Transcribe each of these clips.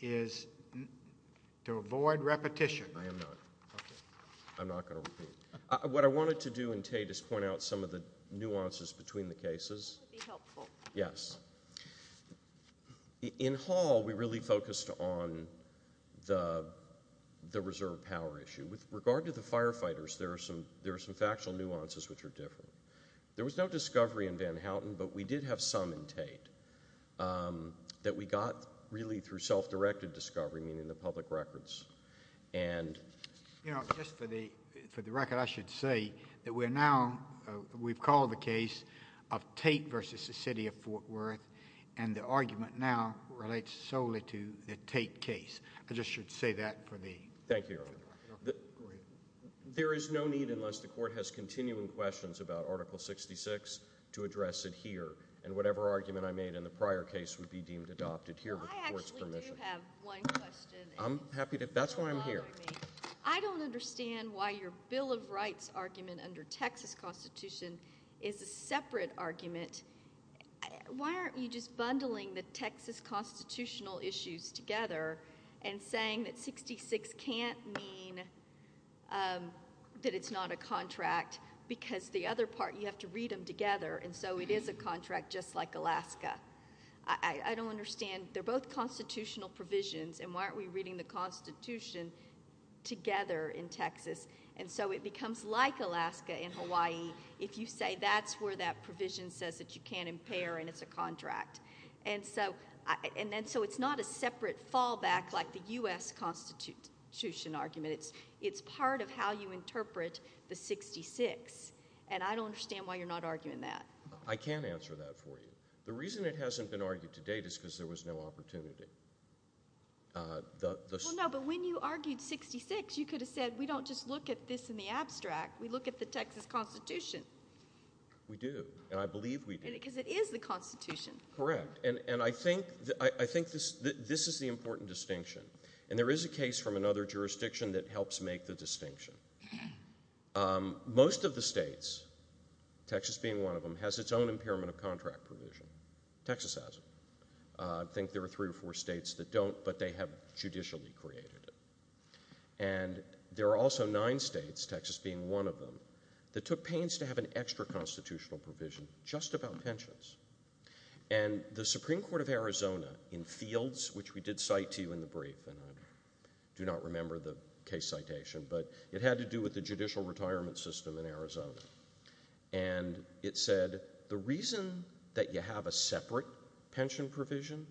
is to avoid repetition. I am not. I'm not going to repeat. What I wanted to do in Tate is point out some of the nuances between the cases. That would be helpful. Yes. In Hall we really focused on the reserve power issue. With regard to the firefighters there are some factual nuances which are different. There was no discovery in Van Houten but we got really through self-directed discovery, meaning the public records. Just for the record I should say that we're now, we've called the case of Tate v. City of Fort Worth and the argument now relates solely to the Tate case. I just should say that. Thank you. There is no need unless the court has continuing questions about Article 66 to address it here. And whatever argument I made in the prior case would be deemed adopted here with the court's permission. I actually do have one question. I'm happy to, that's why I'm here. I don't understand why your Bill of Rights argument under Texas Constitution is a separate argument. Why aren't you just bundling the Texas Constitutional issues together and saying that 66 can't mean that it's not a contract because the other part you have to read them together and so it is a contract just like Alaska. I don't understand. They're both constitutional provisions and why aren't we reading the Constitution together in Texas and so it becomes like Alaska in Hawaii if you say that's where that provision says that you can't impair and it's a contract. So it's not a separate fallback like the U.S. Constitution argument. It's part of how you define that. I can't answer that for you. The reason it hasn't been argued to date is because there was no opportunity. No, but when you argued 66 you could have said we don't just look at this in the abstract. We look at the Texas Constitution. We do and I believe we do. Because it is the Constitution. Correct and I think this is the important distinction and there is a case from another jurisdiction that helps make the distinction. Most of the states, Texas being one of them, has its own impairment of contract provision. Texas has it. I think there are three or four states that don't but they have judicially created it and there are also nine states, Texas being one of them, that took pains to have an extra constitutional provision just about pensions and the Supreme Court of Arizona in fields which we did cite to you in the brief and I do not remember the case citation but it had to do with the judicial retirement system in Arizona and it said the reason that you have a separate pension provision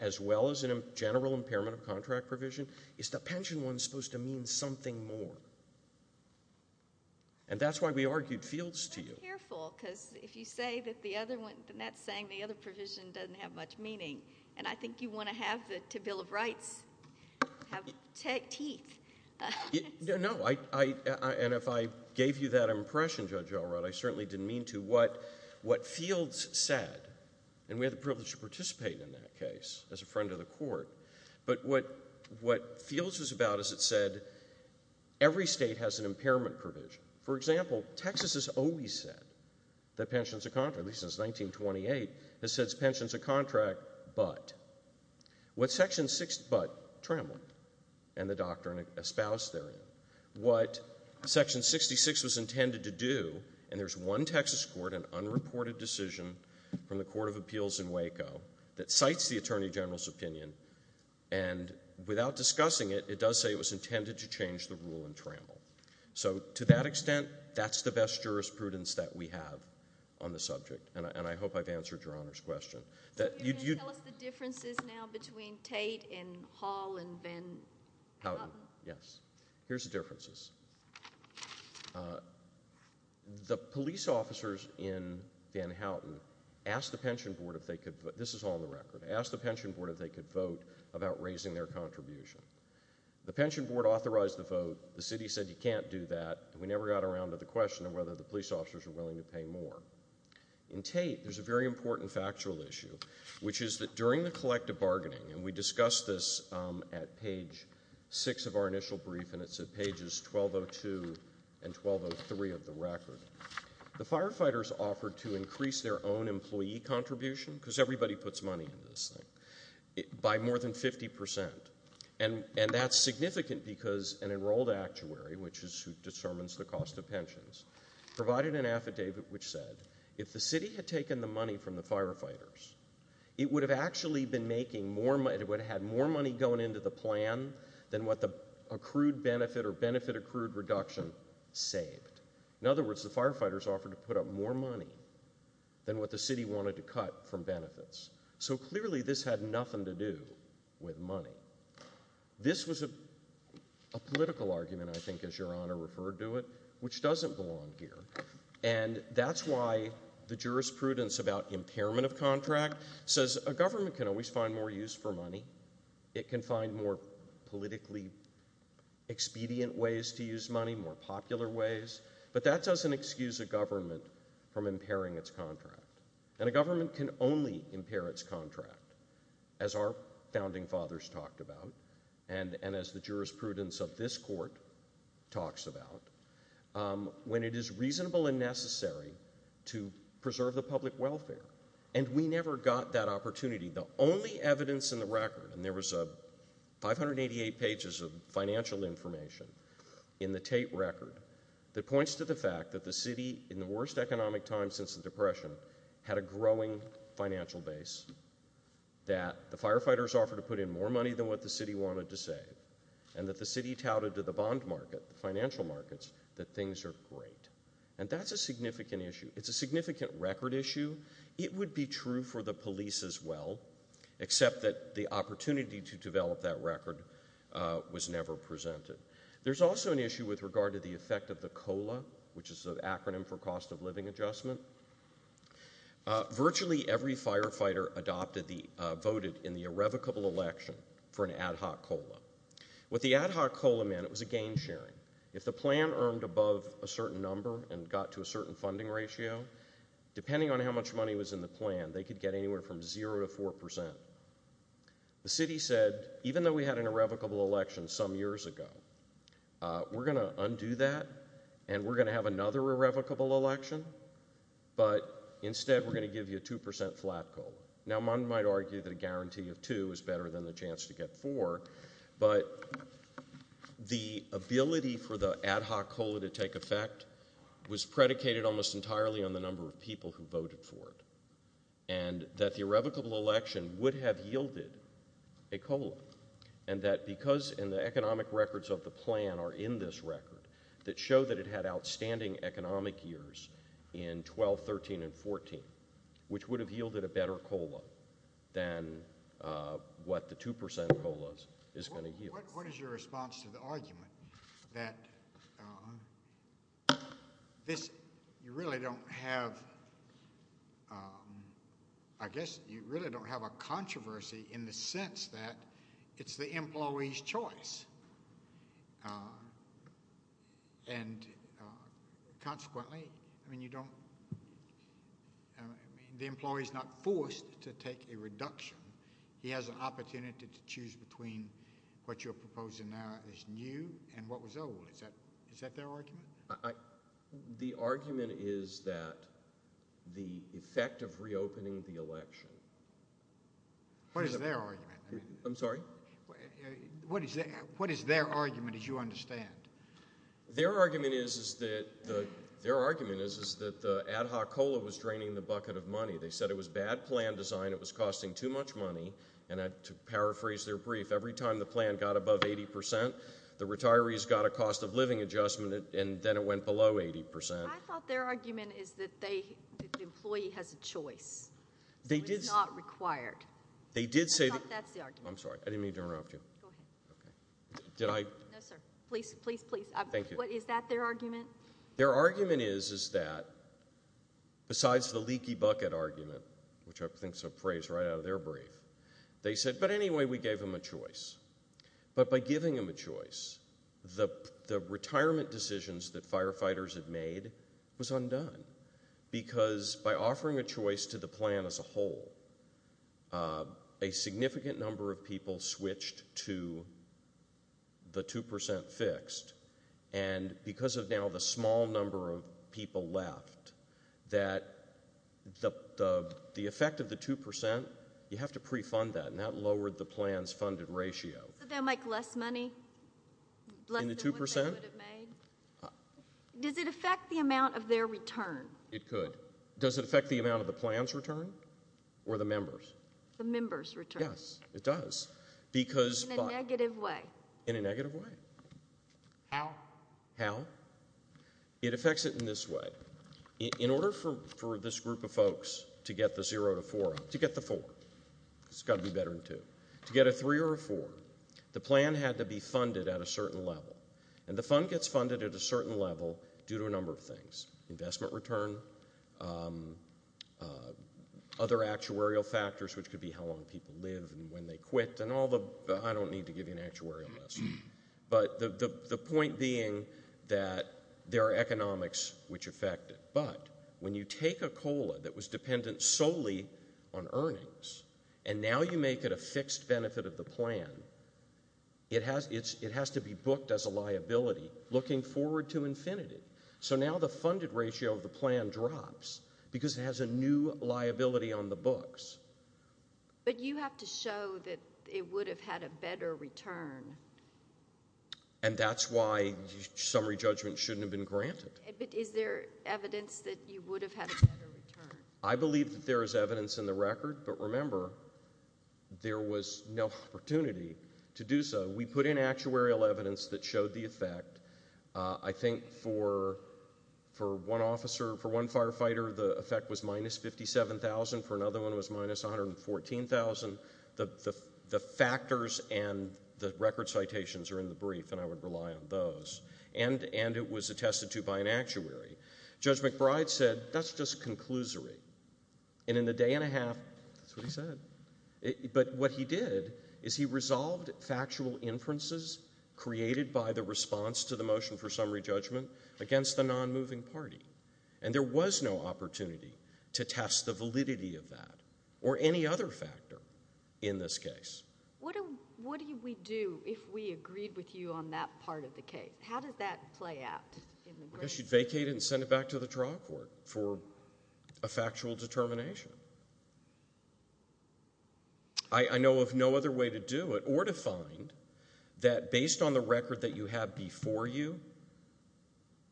as well as a general impairment of contract provision is the pension one is supposed to mean something more and that's why we argued fields to you. Be careful because if you say that the other one, that's saying the other provision doesn't have much meaning and I think you want to have the Bill of Rights have teeth. No, and if I gave you that impression, Judge Elrod, I certainly didn't mean to. What fields said, and we had the privilege to participate in that case as a friend of the court, but what fields was about is it said every state has an impairment provision. For example, Texas has always said that pensions of contract, at least since 1928, has said pensions of contract. So it's about Tramlin and the doctrine espoused therein. What Section 66 was intended to do, and there's one Texas court, an unreported decision from the Court of Appeals in Waco that cites the Attorney General's opinion and without discussing it, it does say it was intended to change the rule in Tramlin. So to that extent, that's the best jurisprudence that we have on the subject and I hope I've answered Your Honor's question. So you're going to tell us the differences now between Tate and Hall and Van Houten? Houten, yes. Here's the differences. The police officers in Van Houten asked the Pension Board if they could, this is all on the record, asked the Pension Board if they could vote about raising their contribution. The Pension Board authorized the vote, the city said you can't do that, and we never got around to the question of whether the police officers are willing to pay more. In Tate, there's a very important factual issue, which is that during the collective bargaining, and we discussed this at page 6 of our initial brief and it's at pages 1202 and 1203 of the record, the firefighters offered to increase their own employee contribution, because everybody puts money into this thing, by more than 50%. And that's significant because an enrolled actuary, which is who determines the cost of pensions, provided an affidavit which said if the city had taken the money from the firefighters, it would have actually been making more money, it would have had more money going into the plan than what the accrued benefit or benefit accrued reduction saved. In other words, the firefighters offered to put up more money than what the city wanted to cut from benefits. So clearly this had nothing to do with money. This was a political argument, I think, as I go on here. And that's why the jurisprudence about impairment of contract says a government can always find more use for money, it can find more politically expedient ways to use money, more popular ways, but that doesn't excuse a government from impairing its contract. And a government can only impair its contract, as our founding fathers talked about, and as the jurisprudence of this court talks about, when it is reasonable and necessary to preserve the public welfare. And we never got that opportunity. The only evidence in the record, and there was 588 pages of financial information in the Tate record that points to the fact that the city, in the worst economic time since the Depression, had a growing financial base, that the firefighters offered to put in more money than what the city wanted to save, and that the city touted to the bond market, the financial markets, that things are great. And that's a significant issue. It's a significant record issue. It would be true for the police as well, except that the opportunity to develop that record was never presented. There's also an issue with regard to the effect of the COLA, which is that the firefighter voted in the irrevocable election for an ad hoc COLA. What the ad hoc COLA meant, it was a gain sharing. If the plan earned above a certain number and got to a certain funding ratio, depending on how much money was in the plan, they could get anywhere from 0 to 4%. The city said, even though we had an irrevocable election some years ago, we're going to undo that, and we're going to have another irrevocable election, but instead we're going to give you a 2% flat COLA. Now, one might argue that a guarantee of 2 is better than the chance to get 4, but the ability for the ad hoc COLA to take effect was predicated almost entirely on the number of people who voted for it, and that the irrevocable election would have yielded a COLA, and that because in the economic records of the plan are in this record that show that it had outstanding economic years in 12, 13, and 14, which would have yielded a better COLA than what the 2% COLA is going to yield. What is your response to the argument that you really don't have a controversy in the election? I mean, the employee's not forced to take a reduction. He has an opportunity to choose between what you're proposing now is new and what was old. Is that their argument? The argument is that the effect of reopening the election— What is their argument? I'm sorry? What is their argument, as you understand? Their argument is that the ad hoc COLA was draining the bucket of money. They said it was bad plan design, it was costing too much money, and to paraphrase their brief, every time the plan got above 80%, the retirees got a cost of living adjustment, and then it went below 80%. I thought their argument is that the employee has a choice. It's not required. They did say— I thought that's the argument. I'm sorry. I didn't mean to interrupt you. Go ahead. Did I— No, sir. Please, please, please. Thank you. Is that their argument? Their argument is that, besides the leaky bucket argument, which I think is a phrase right out of their brief, they said, but anyway, we gave them a choice. But by giving them a choice, the retirement decisions that firefighters had made was undone, because by offering a significant number of people switched to the 2% fixed, and because of now the small number of people left, that the effect of the 2%, you have to pre-fund that, and that lowered the plan's funded ratio. So they'll make less money? Less than what they could have made? In the 2%? Does it affect the amount of their return? It could. But does it affect the amount of the plan's return? Or the members? The members' return. Yes, it does. Because— In a negative way. In a negative way. How? How? It affects it in this way. In order for this group of folks to get the zero to four—to get the four. It's got to be better than two. To get a three or a four, the plan had to be funded at a certain level. And the fund gets funded at a certain level due to a number of things—investment return, other actuarial factors, which could be how long people live and when they quit, and all the—I don't need to give you an actuarial lesson. But the point being that there are economics which affect it. But when you take a COLA that was dependent solely on earnings, and now you make it a fixed benefit of the plan, it has to be booked as a liability looking forward to infinity. So now the funded ratio of the plan drops because it has a new liability on the books. But you have to show that it would have had a better return. And that's why summary judgment shouldn't have been granted. But is there evidence that you would have had a better return? I believe that there is evidence in the record. But remember, there was no opportunity to do so. We put in actuarial evidence that showed the effect. I think for one officer, for one firefighter, the effect was minus 57,000. For another one, it was minus 114,000. The factors and the record citations are in the brief, and I would rely on those. And it was attested to by an actuary. Judge McBride said, that's just a conclusory. And in the day and a half, that's what he said. But what he did, is he resolved factual inferences created by the response to the motion for summary judgment against the non-moving party. And there was no opportunity to test the validity of that, or any other factor in this case. What do we do if we agreed with you on that part of the case? How does that play out? I guess you'd vacate it and send it back to the trial court for a factual determination. I know of no other way to do it, or to find, that based on the record that you have before you,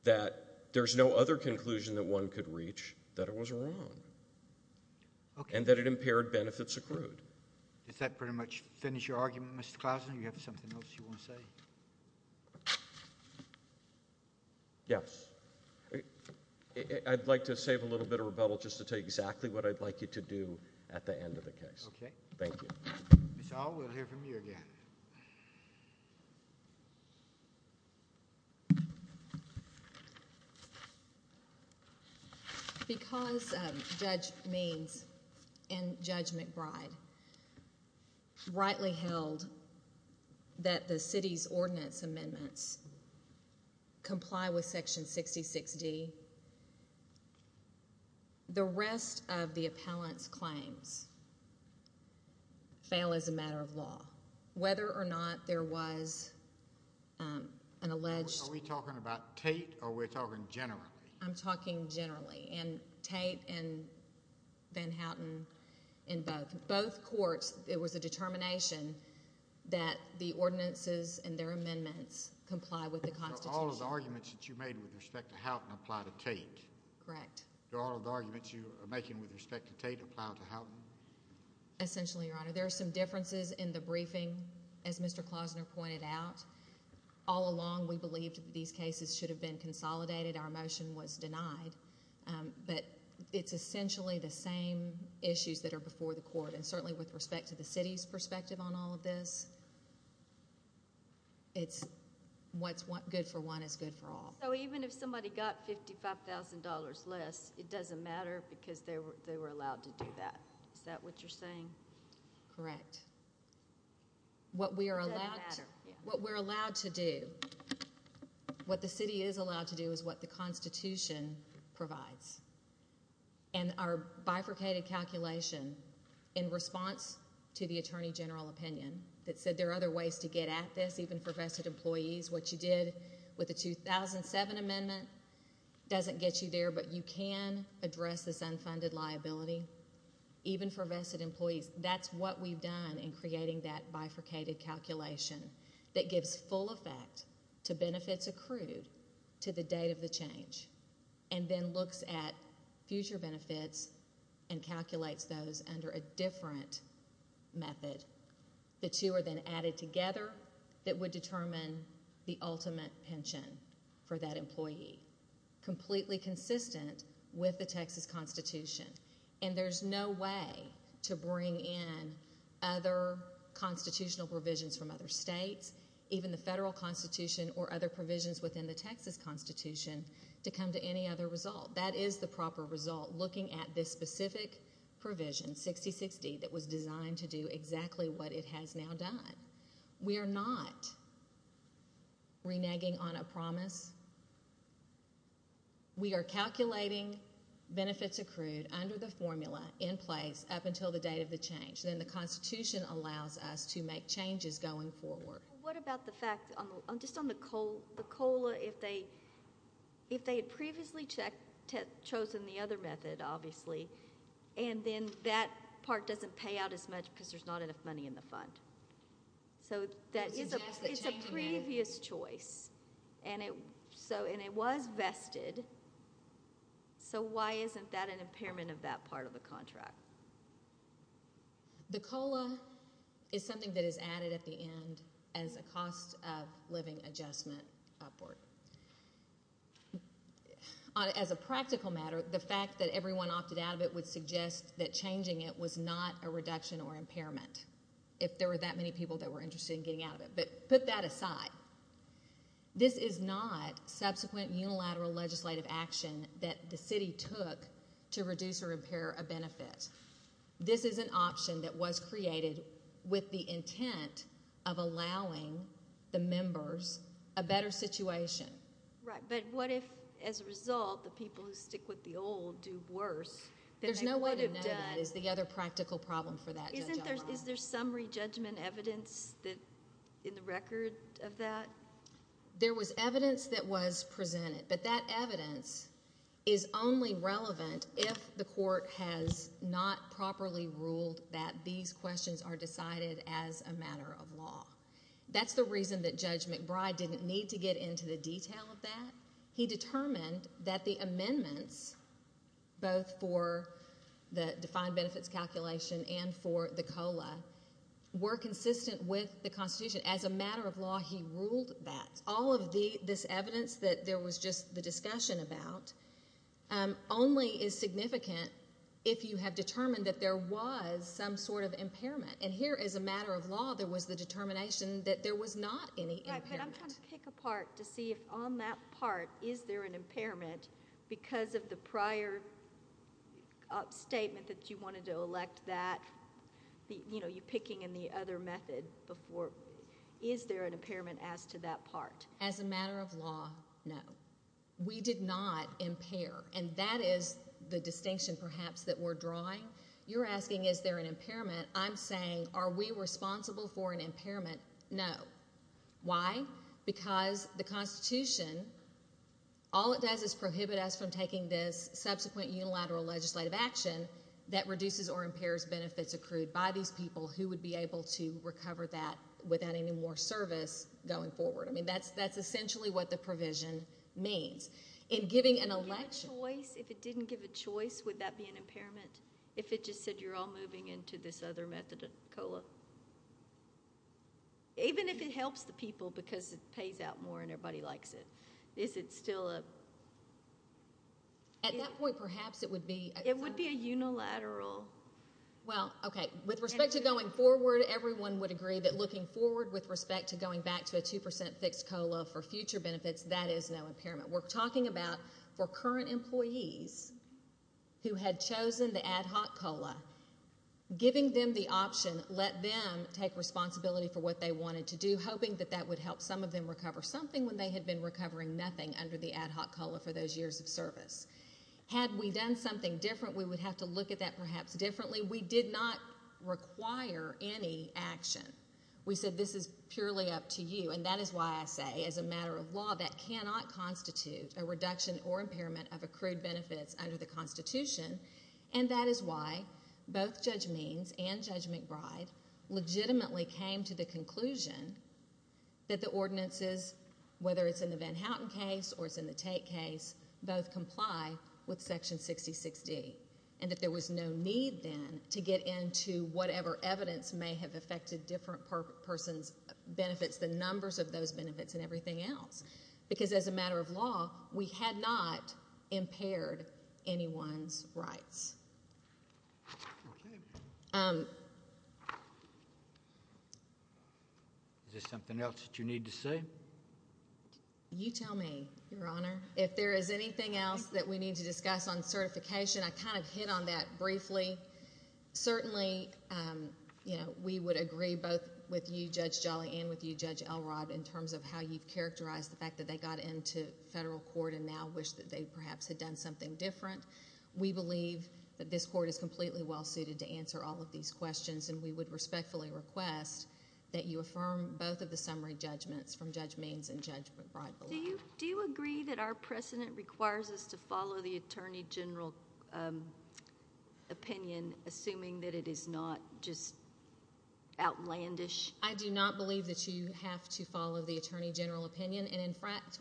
that there's no other conclusion that one could reach that it was wrong. And that it impaired benefits accrued. Does that pretty much finish your argument, Mr. Klausen? Do you have something else you want to say? Yes. I'd like to save a little bit of rebuttal just to tell you exactly what I'd like you to do at the end of the case. Okay. Thank you. Ms. Ault, we'll hear from you again. Because Judge Means and Judge McBride rightly held that the city's ordinance amendments comply with Section 66D, the rest of the appellant's claims fail as a matter of law. Whether or not there was an alleged... Are we talking about Tate, or are we talking generally? I'm talking generally. And Tate and Van Houten and both. Both courts, it was a determination that the ordinances and their amendments comply with the Constitution. So all of the arguments that you made with respect to Houten apply to Tate? Correct. Do all of the arguments you are making with respect to Tate apply to Houten? Essentially, Your Honor. There are some differences in the briefing, as Mr. Klausen pointed out. All along, we believed that these cases should have been consolidated. Our motion was denied. But it's essentially the same issues that are before the court. And certainly with respect to the city's perspective on all of this, what's good for one is good for all. So even if somebody got $55,000 less, it doesn't matter because they were allowed to do that. Is that what you're saying? Correct. What we're allowed to do, what the city is allowed to do, is what the Constitution provides. And our bifurcated calculation in response to the Attorney General opinion that said there are other ways to get at this, even for vested employees. What you did with the 2007 amendment doesn't get you there, but you can address this unfunded liability, even for vested employees. That's what we've done in creating that bifurcated calculation that gives full effect to benefits accrued to the date of the change and then looks at future benefits and calculates those under a different method. The two are then added together that would determine the ultimate pension for that employee, completely consistent with the Texas Constitution. And there's no way to bring in other constitutional provisions from other states, even the federal Constitution or other provisions within the Texas Constitution, to come to any other result. That is the proper result, looking at this specific provision, 60-60, that was designed to do exactly what it has now done. We are not reneging on a promise. We are calculating benefits accrued under the formula in place up until the date of the change. Then the Constitution allows us to make changes going forward. What about the fact, just on the COLA, if they had previously chosen the other method, obviously, and then that part doesn't pay out as much because there's not enough money in the fund? It's a previous choice, and it was vested, so why isn't that an impairment of that part of the contract? The COLA is something that is added at the end as a cost-of-living adjustment upward. As a practical matter, the fact that everyone opted out of it would suggest that changing it was not a reduction or impairment, if there were that many people that were interested in getting out of it. Put that aside. This is not subsequent unilateral legislative action that the city took to reduce or impair a benefit. This is an option that was created with the intent of allowing the members a better situation. Right, but what if, as a result, the people who stick with the old do worse? There's no way to know that is the other practical problem for that judgment. Is there summary judgment evidence in the record of that? There was evidence that was presented, but that evidence is only relevant if the court has not properly ruled that these questions are decided as a matter of law. That's the reason that Judge McBride didn't need to get into the detail of that. He determined that the amendments, both for the defined benefits calculation and for the COLA, were consistent with the Constitution. As a matter of law, he ruled that. All of this evidence that there was just the discussion about only is significant if you have determined that there was some sort of impairment. And here, as a matter of law, there was the determination that there was not any impairment. Right, but I'm trying to pick apart to see if, on that part, is there an impairment because of the prior statement that you wanted to elect that? You know, you're picking in the other method before. Is there an impairment as to that part? As a matter of law, no. We did not impair, and that is the distinction, perhaps, that we're drawing. You're asking is there an impairment. I'm saying are we responsible for an impairment? No. Why? Because the Constitution, all it does is prohibit us from taking this subsequent unilateral legislative action that reduces or impairs benefits accrued by these people who would be able to recover that without any more service going forward. I mean, that's essentially what the provision means. In giving an election— If it didn't give a choice, would that be an impairment if it just said you're all moving into this other method of COLA? Even if it helps the people because it pays out more and everybody likes it, is it still a— At that point, perhaps it would be— It would be a unilateral— Well, okay. With respect to going forward, everyone would agree that looking forward with respect to going back to a 2% fixed COLA for future benefits, that is no impairment. We're talking about for current employees who had chosen the ad hoc COLA, giving them the option, let them take responsibility for what they wanted to do, hoping that that would help some of them recover something when they had been recovering nothing under the ad hoc COLA for those years of service. Had we done something different, we would have to look at that perhaps differently. We did not require any action. We said this is purely up to you, and that is why I say as a matter of law that cannot constitute a reduction or impairment of accrued benefits under the Constitution, and that is why both Judge Means and Judge McBride legitimately came to the conclusion that the ordinances, whether it's in the Van Houten case or it's in the Tate case, both comply with Section 66D and that there was no need then to get into whatever evidence may have affected different persons' benefits, the numbers of those benefits and everything else because as a matter of law, we had not impaired anyone's rights. Is there something else that you need to say? You tell me, Your Honor. If there is anything else that we need to discuss on certification, I kind of hit on that briefly. Certainly we would agree both with you, Judge Jolly, and with you, Judge Elrod, in terms of how you've characterized the fact that they got into federal court and now wish that they perhaps had done something different. We believe that this court is completely well-suited to answer all of these questions, and we would respectfully request that you affirm both of the summary judgments from Judge Means and Judge McBride. Do you agree that our precedent requires us to follow the attorney general opinion, assuming that it is not just outlandish? I do not believe that you have to follow the attorney general opinion, and in fact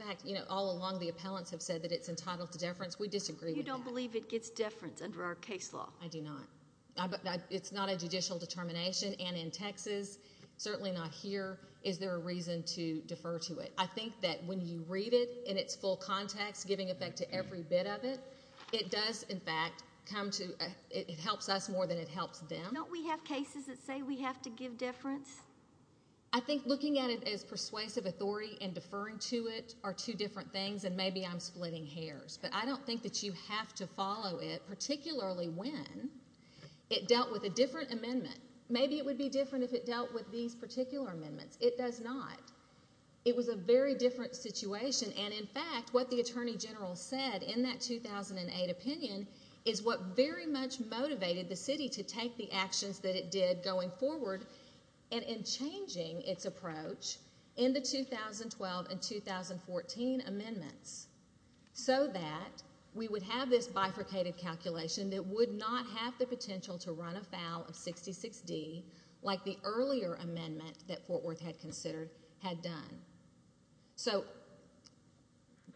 all along the appellants have said that it's entitled to deference. We disagree with that. You don't believe it gets deference under our case law? I do not. It's not a judicial determination, and in Texas, certainly not here, is there a reason to defer to it? I think that when you read it in its full context, giving effect to every bit of it, it does, in fact, come to... it helps us more than it helps them. Don't we have cases that say we have to give deference? I think looking at it as persuasive authority and deferring to it are two different things, and maybe I'm splitting hairs, but I don't think that you have to follow it, particularly when it dealt with a different amendment. Maybe it would be different if it dealt with these particular amendments. It does not. It was a very different situation, and in fact what the attorney general said in that 2008 opinion is what very much motivated the city to take the actions that it did going forward and in changing its approach in the 2012 and 2014 amendments so that we would have this bifurcated calculation that would not have the potential to run afoul of 66D like the earlier amendment that Fort Worth had considered had done. So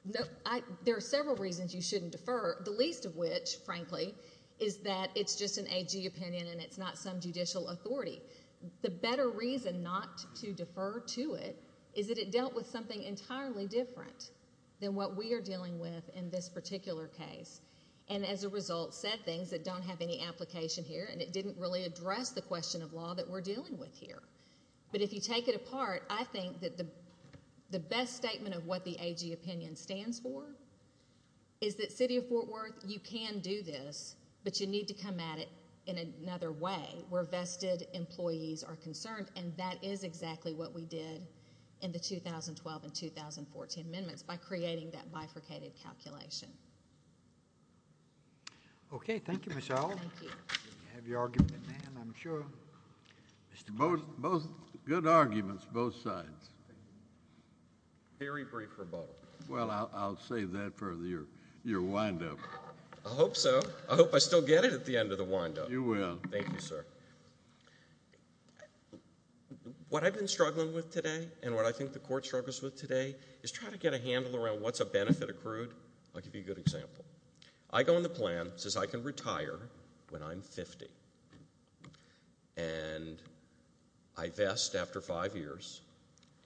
there are several reasons you shouldn't defer, the least of which, frankly, is that it's just an AG opinion and it's not some judicial authority. The better reason not to defer to it is that it dealt with something entirely different than what we are dealing with in this particular case and as a result said things that don't have any application here, and it didn't really address the question of law that we're dealing with here. But if you take it apart, I think that the best statement of what the AG opinion stands for is that City of Fort Worth, you can do this, but you need to come at it in another way where vested employees are concerned, and that is exactly what we did in the 2012 and 2014 amendments by creating that bifurcated calculation. Okay. Thank you, Ms. Howell. Thank you. You have your argument, ma'am, I'm sure. Good arguments both sides. Very brief rebuttal. Well, I'll save that for your wind-up. I hope so. I hope I still get it at the end of the wind-up. You will. Thank you, sir. What I've been struggling with today and what I think the Court struggles with today is try to get a handle around what's a benefit accrued. I'll give you a good example. I go in the plan, it says I can retire when I'm 50, and I vest after five years,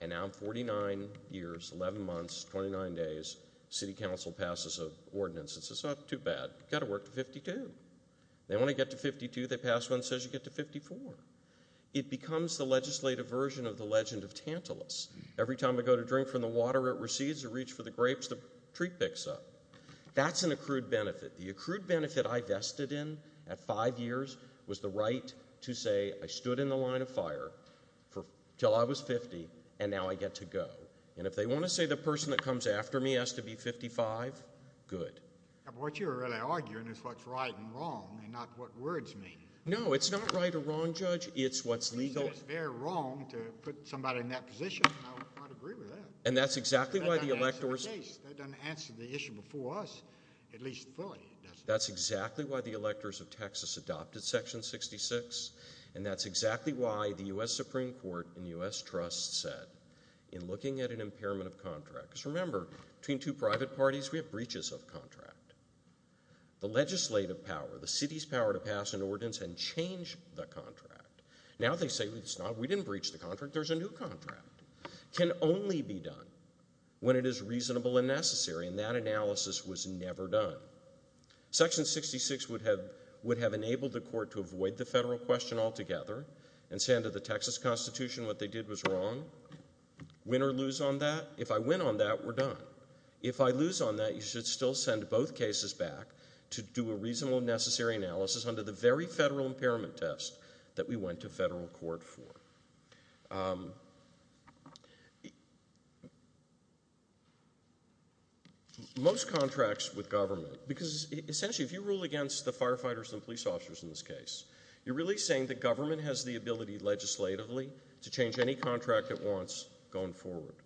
and now in 49 years, 11 months, 29 days, City Council passes an ordinance that says, it's not too bad, you've got to work to 52. Then when I get to 52, they pass one that says you get to 54. It becomes the legislative version of the legend of Tantalus. Every time I go to drink from the water, it recedes. I reach for the grapes, the tree picks up. That's an accrued benefit. The accrued benefit I vested in at five years was the right to say I stood in the line of fire until I was 50, and now I get to go. If they want to say the person that comes after me has to be 55, good. What you're really arguing is what's right and wrong and not what words mean. No, it's not right or wrong, Judge. It's what's legal. It's very wrong to put somebody in that position. I would agree with that. That's exactly why the electors... That doesn't answer the case. That's exactly why the electors of Texas adopted Section 66, and that's exactly why the U.S. Supreme Court and U.S. Trust said in looking at an impairment of contract, because remember, between two private parties, we have breaches of contract. The legislative power, the city's power to pass an ordinance and change the contract. Now they say we didn't breach the contract. There's a new contract. It can only be done when it is reasonable and necessary, and that analysis was never done. Section 66 would have enabled the court to avoid the federal question altogether and say under the Texas Constitution what they did was wrong. Win or lose on that? If I win on that, we're done. If I lose on that, you should still send both cases back to do a reasonable and necessary analysis under the very federal impairment test that we went to federal court for. Most contracts with government, because essentially if you rule against the firefighters and police officers in this case, you're really saying the government has the ability legislatively to change any contract it wants going forward,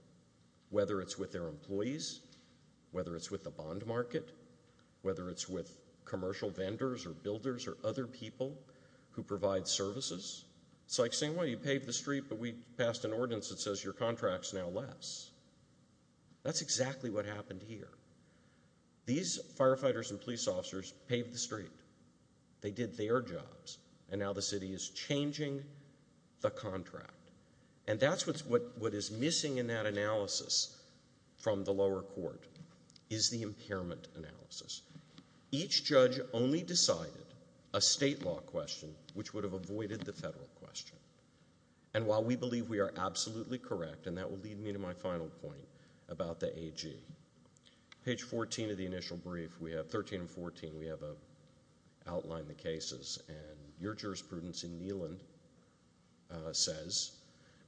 whether it's with their employees, whether it's with the bond market, whether it's with commercial vendors or builders or other people who provide services. It's like saying, well, you paved the street, but we passed an ordinance that says your contract's now less. That's exactly what happened here. These firefighters and police officers paved the street. They did their jobs, and now the city is changing the contract. And that's what is missing in that analysis from the lower court is the impairment analysis. Each judge only decided a state law question which would have avoided the federal question. And while we believe we are absolutely correct, and that will lead me to my final point about the AG, page 14 of the initial brief, 13 and 14, we have outlined the cases, and your jurisprudence in Neyland says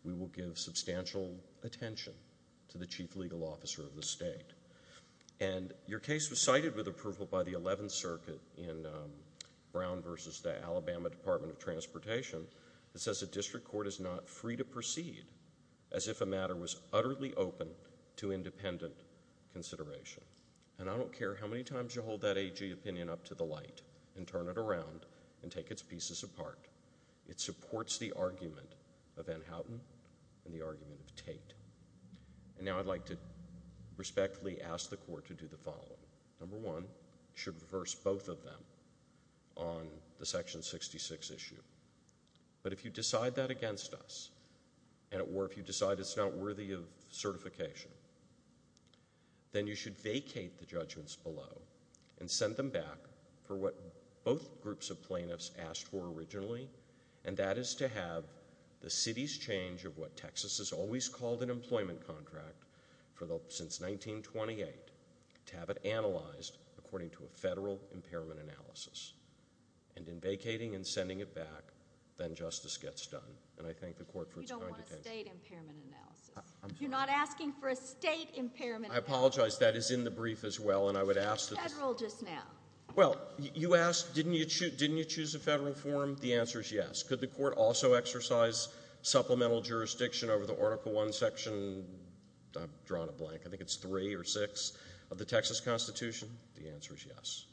we will give substantial attention to the chief legal officer of the state. And your case was cited with approval by the 11th Circuit in Brown v. The Alabama Department of Transportation that says the district court is not free to proceed as if a matter was utterly open to independent consideration. And I don't care how many times you hold that AG opinion up to the light and turn it around and take its pieces apart. It supports the argument of Ann Houghton and the argument of Tate. And now I'd like to respectfully ask the court to do the following. Number one, you should reverse both of them on the Section 66 issue. But if you decide that against us, or if you decide it's not worthy of certification, then you should vacate the judgments below and send them back for what both groups of plaintiffs asked for originally, and that is to have the city's change of what Texas has always called an employment contract since 1928 to have it analyzed according to a federal impairment analysis. And in vacating and sending it back, then justice gets done. And I thank the court for its conduct. You don't want a state impairment analysis. I'm sorry. You're not asking for a state impairment analysis. I apologize. That is in the brief as well, and I would ask that... It was federal just now. Well, you asked, didn't you choose a federal form? The answer is yes. Could the court also exercise supplemental jurisdiction over the Article I Section, I've drawn a blank, I think it's 3 or 6, of the Texas Constitution? The answer is yes.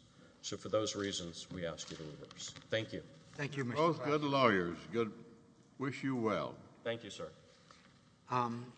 So for those reasons, we ask you to reverse. Thank you. Both good lawyers. Thank you, sir.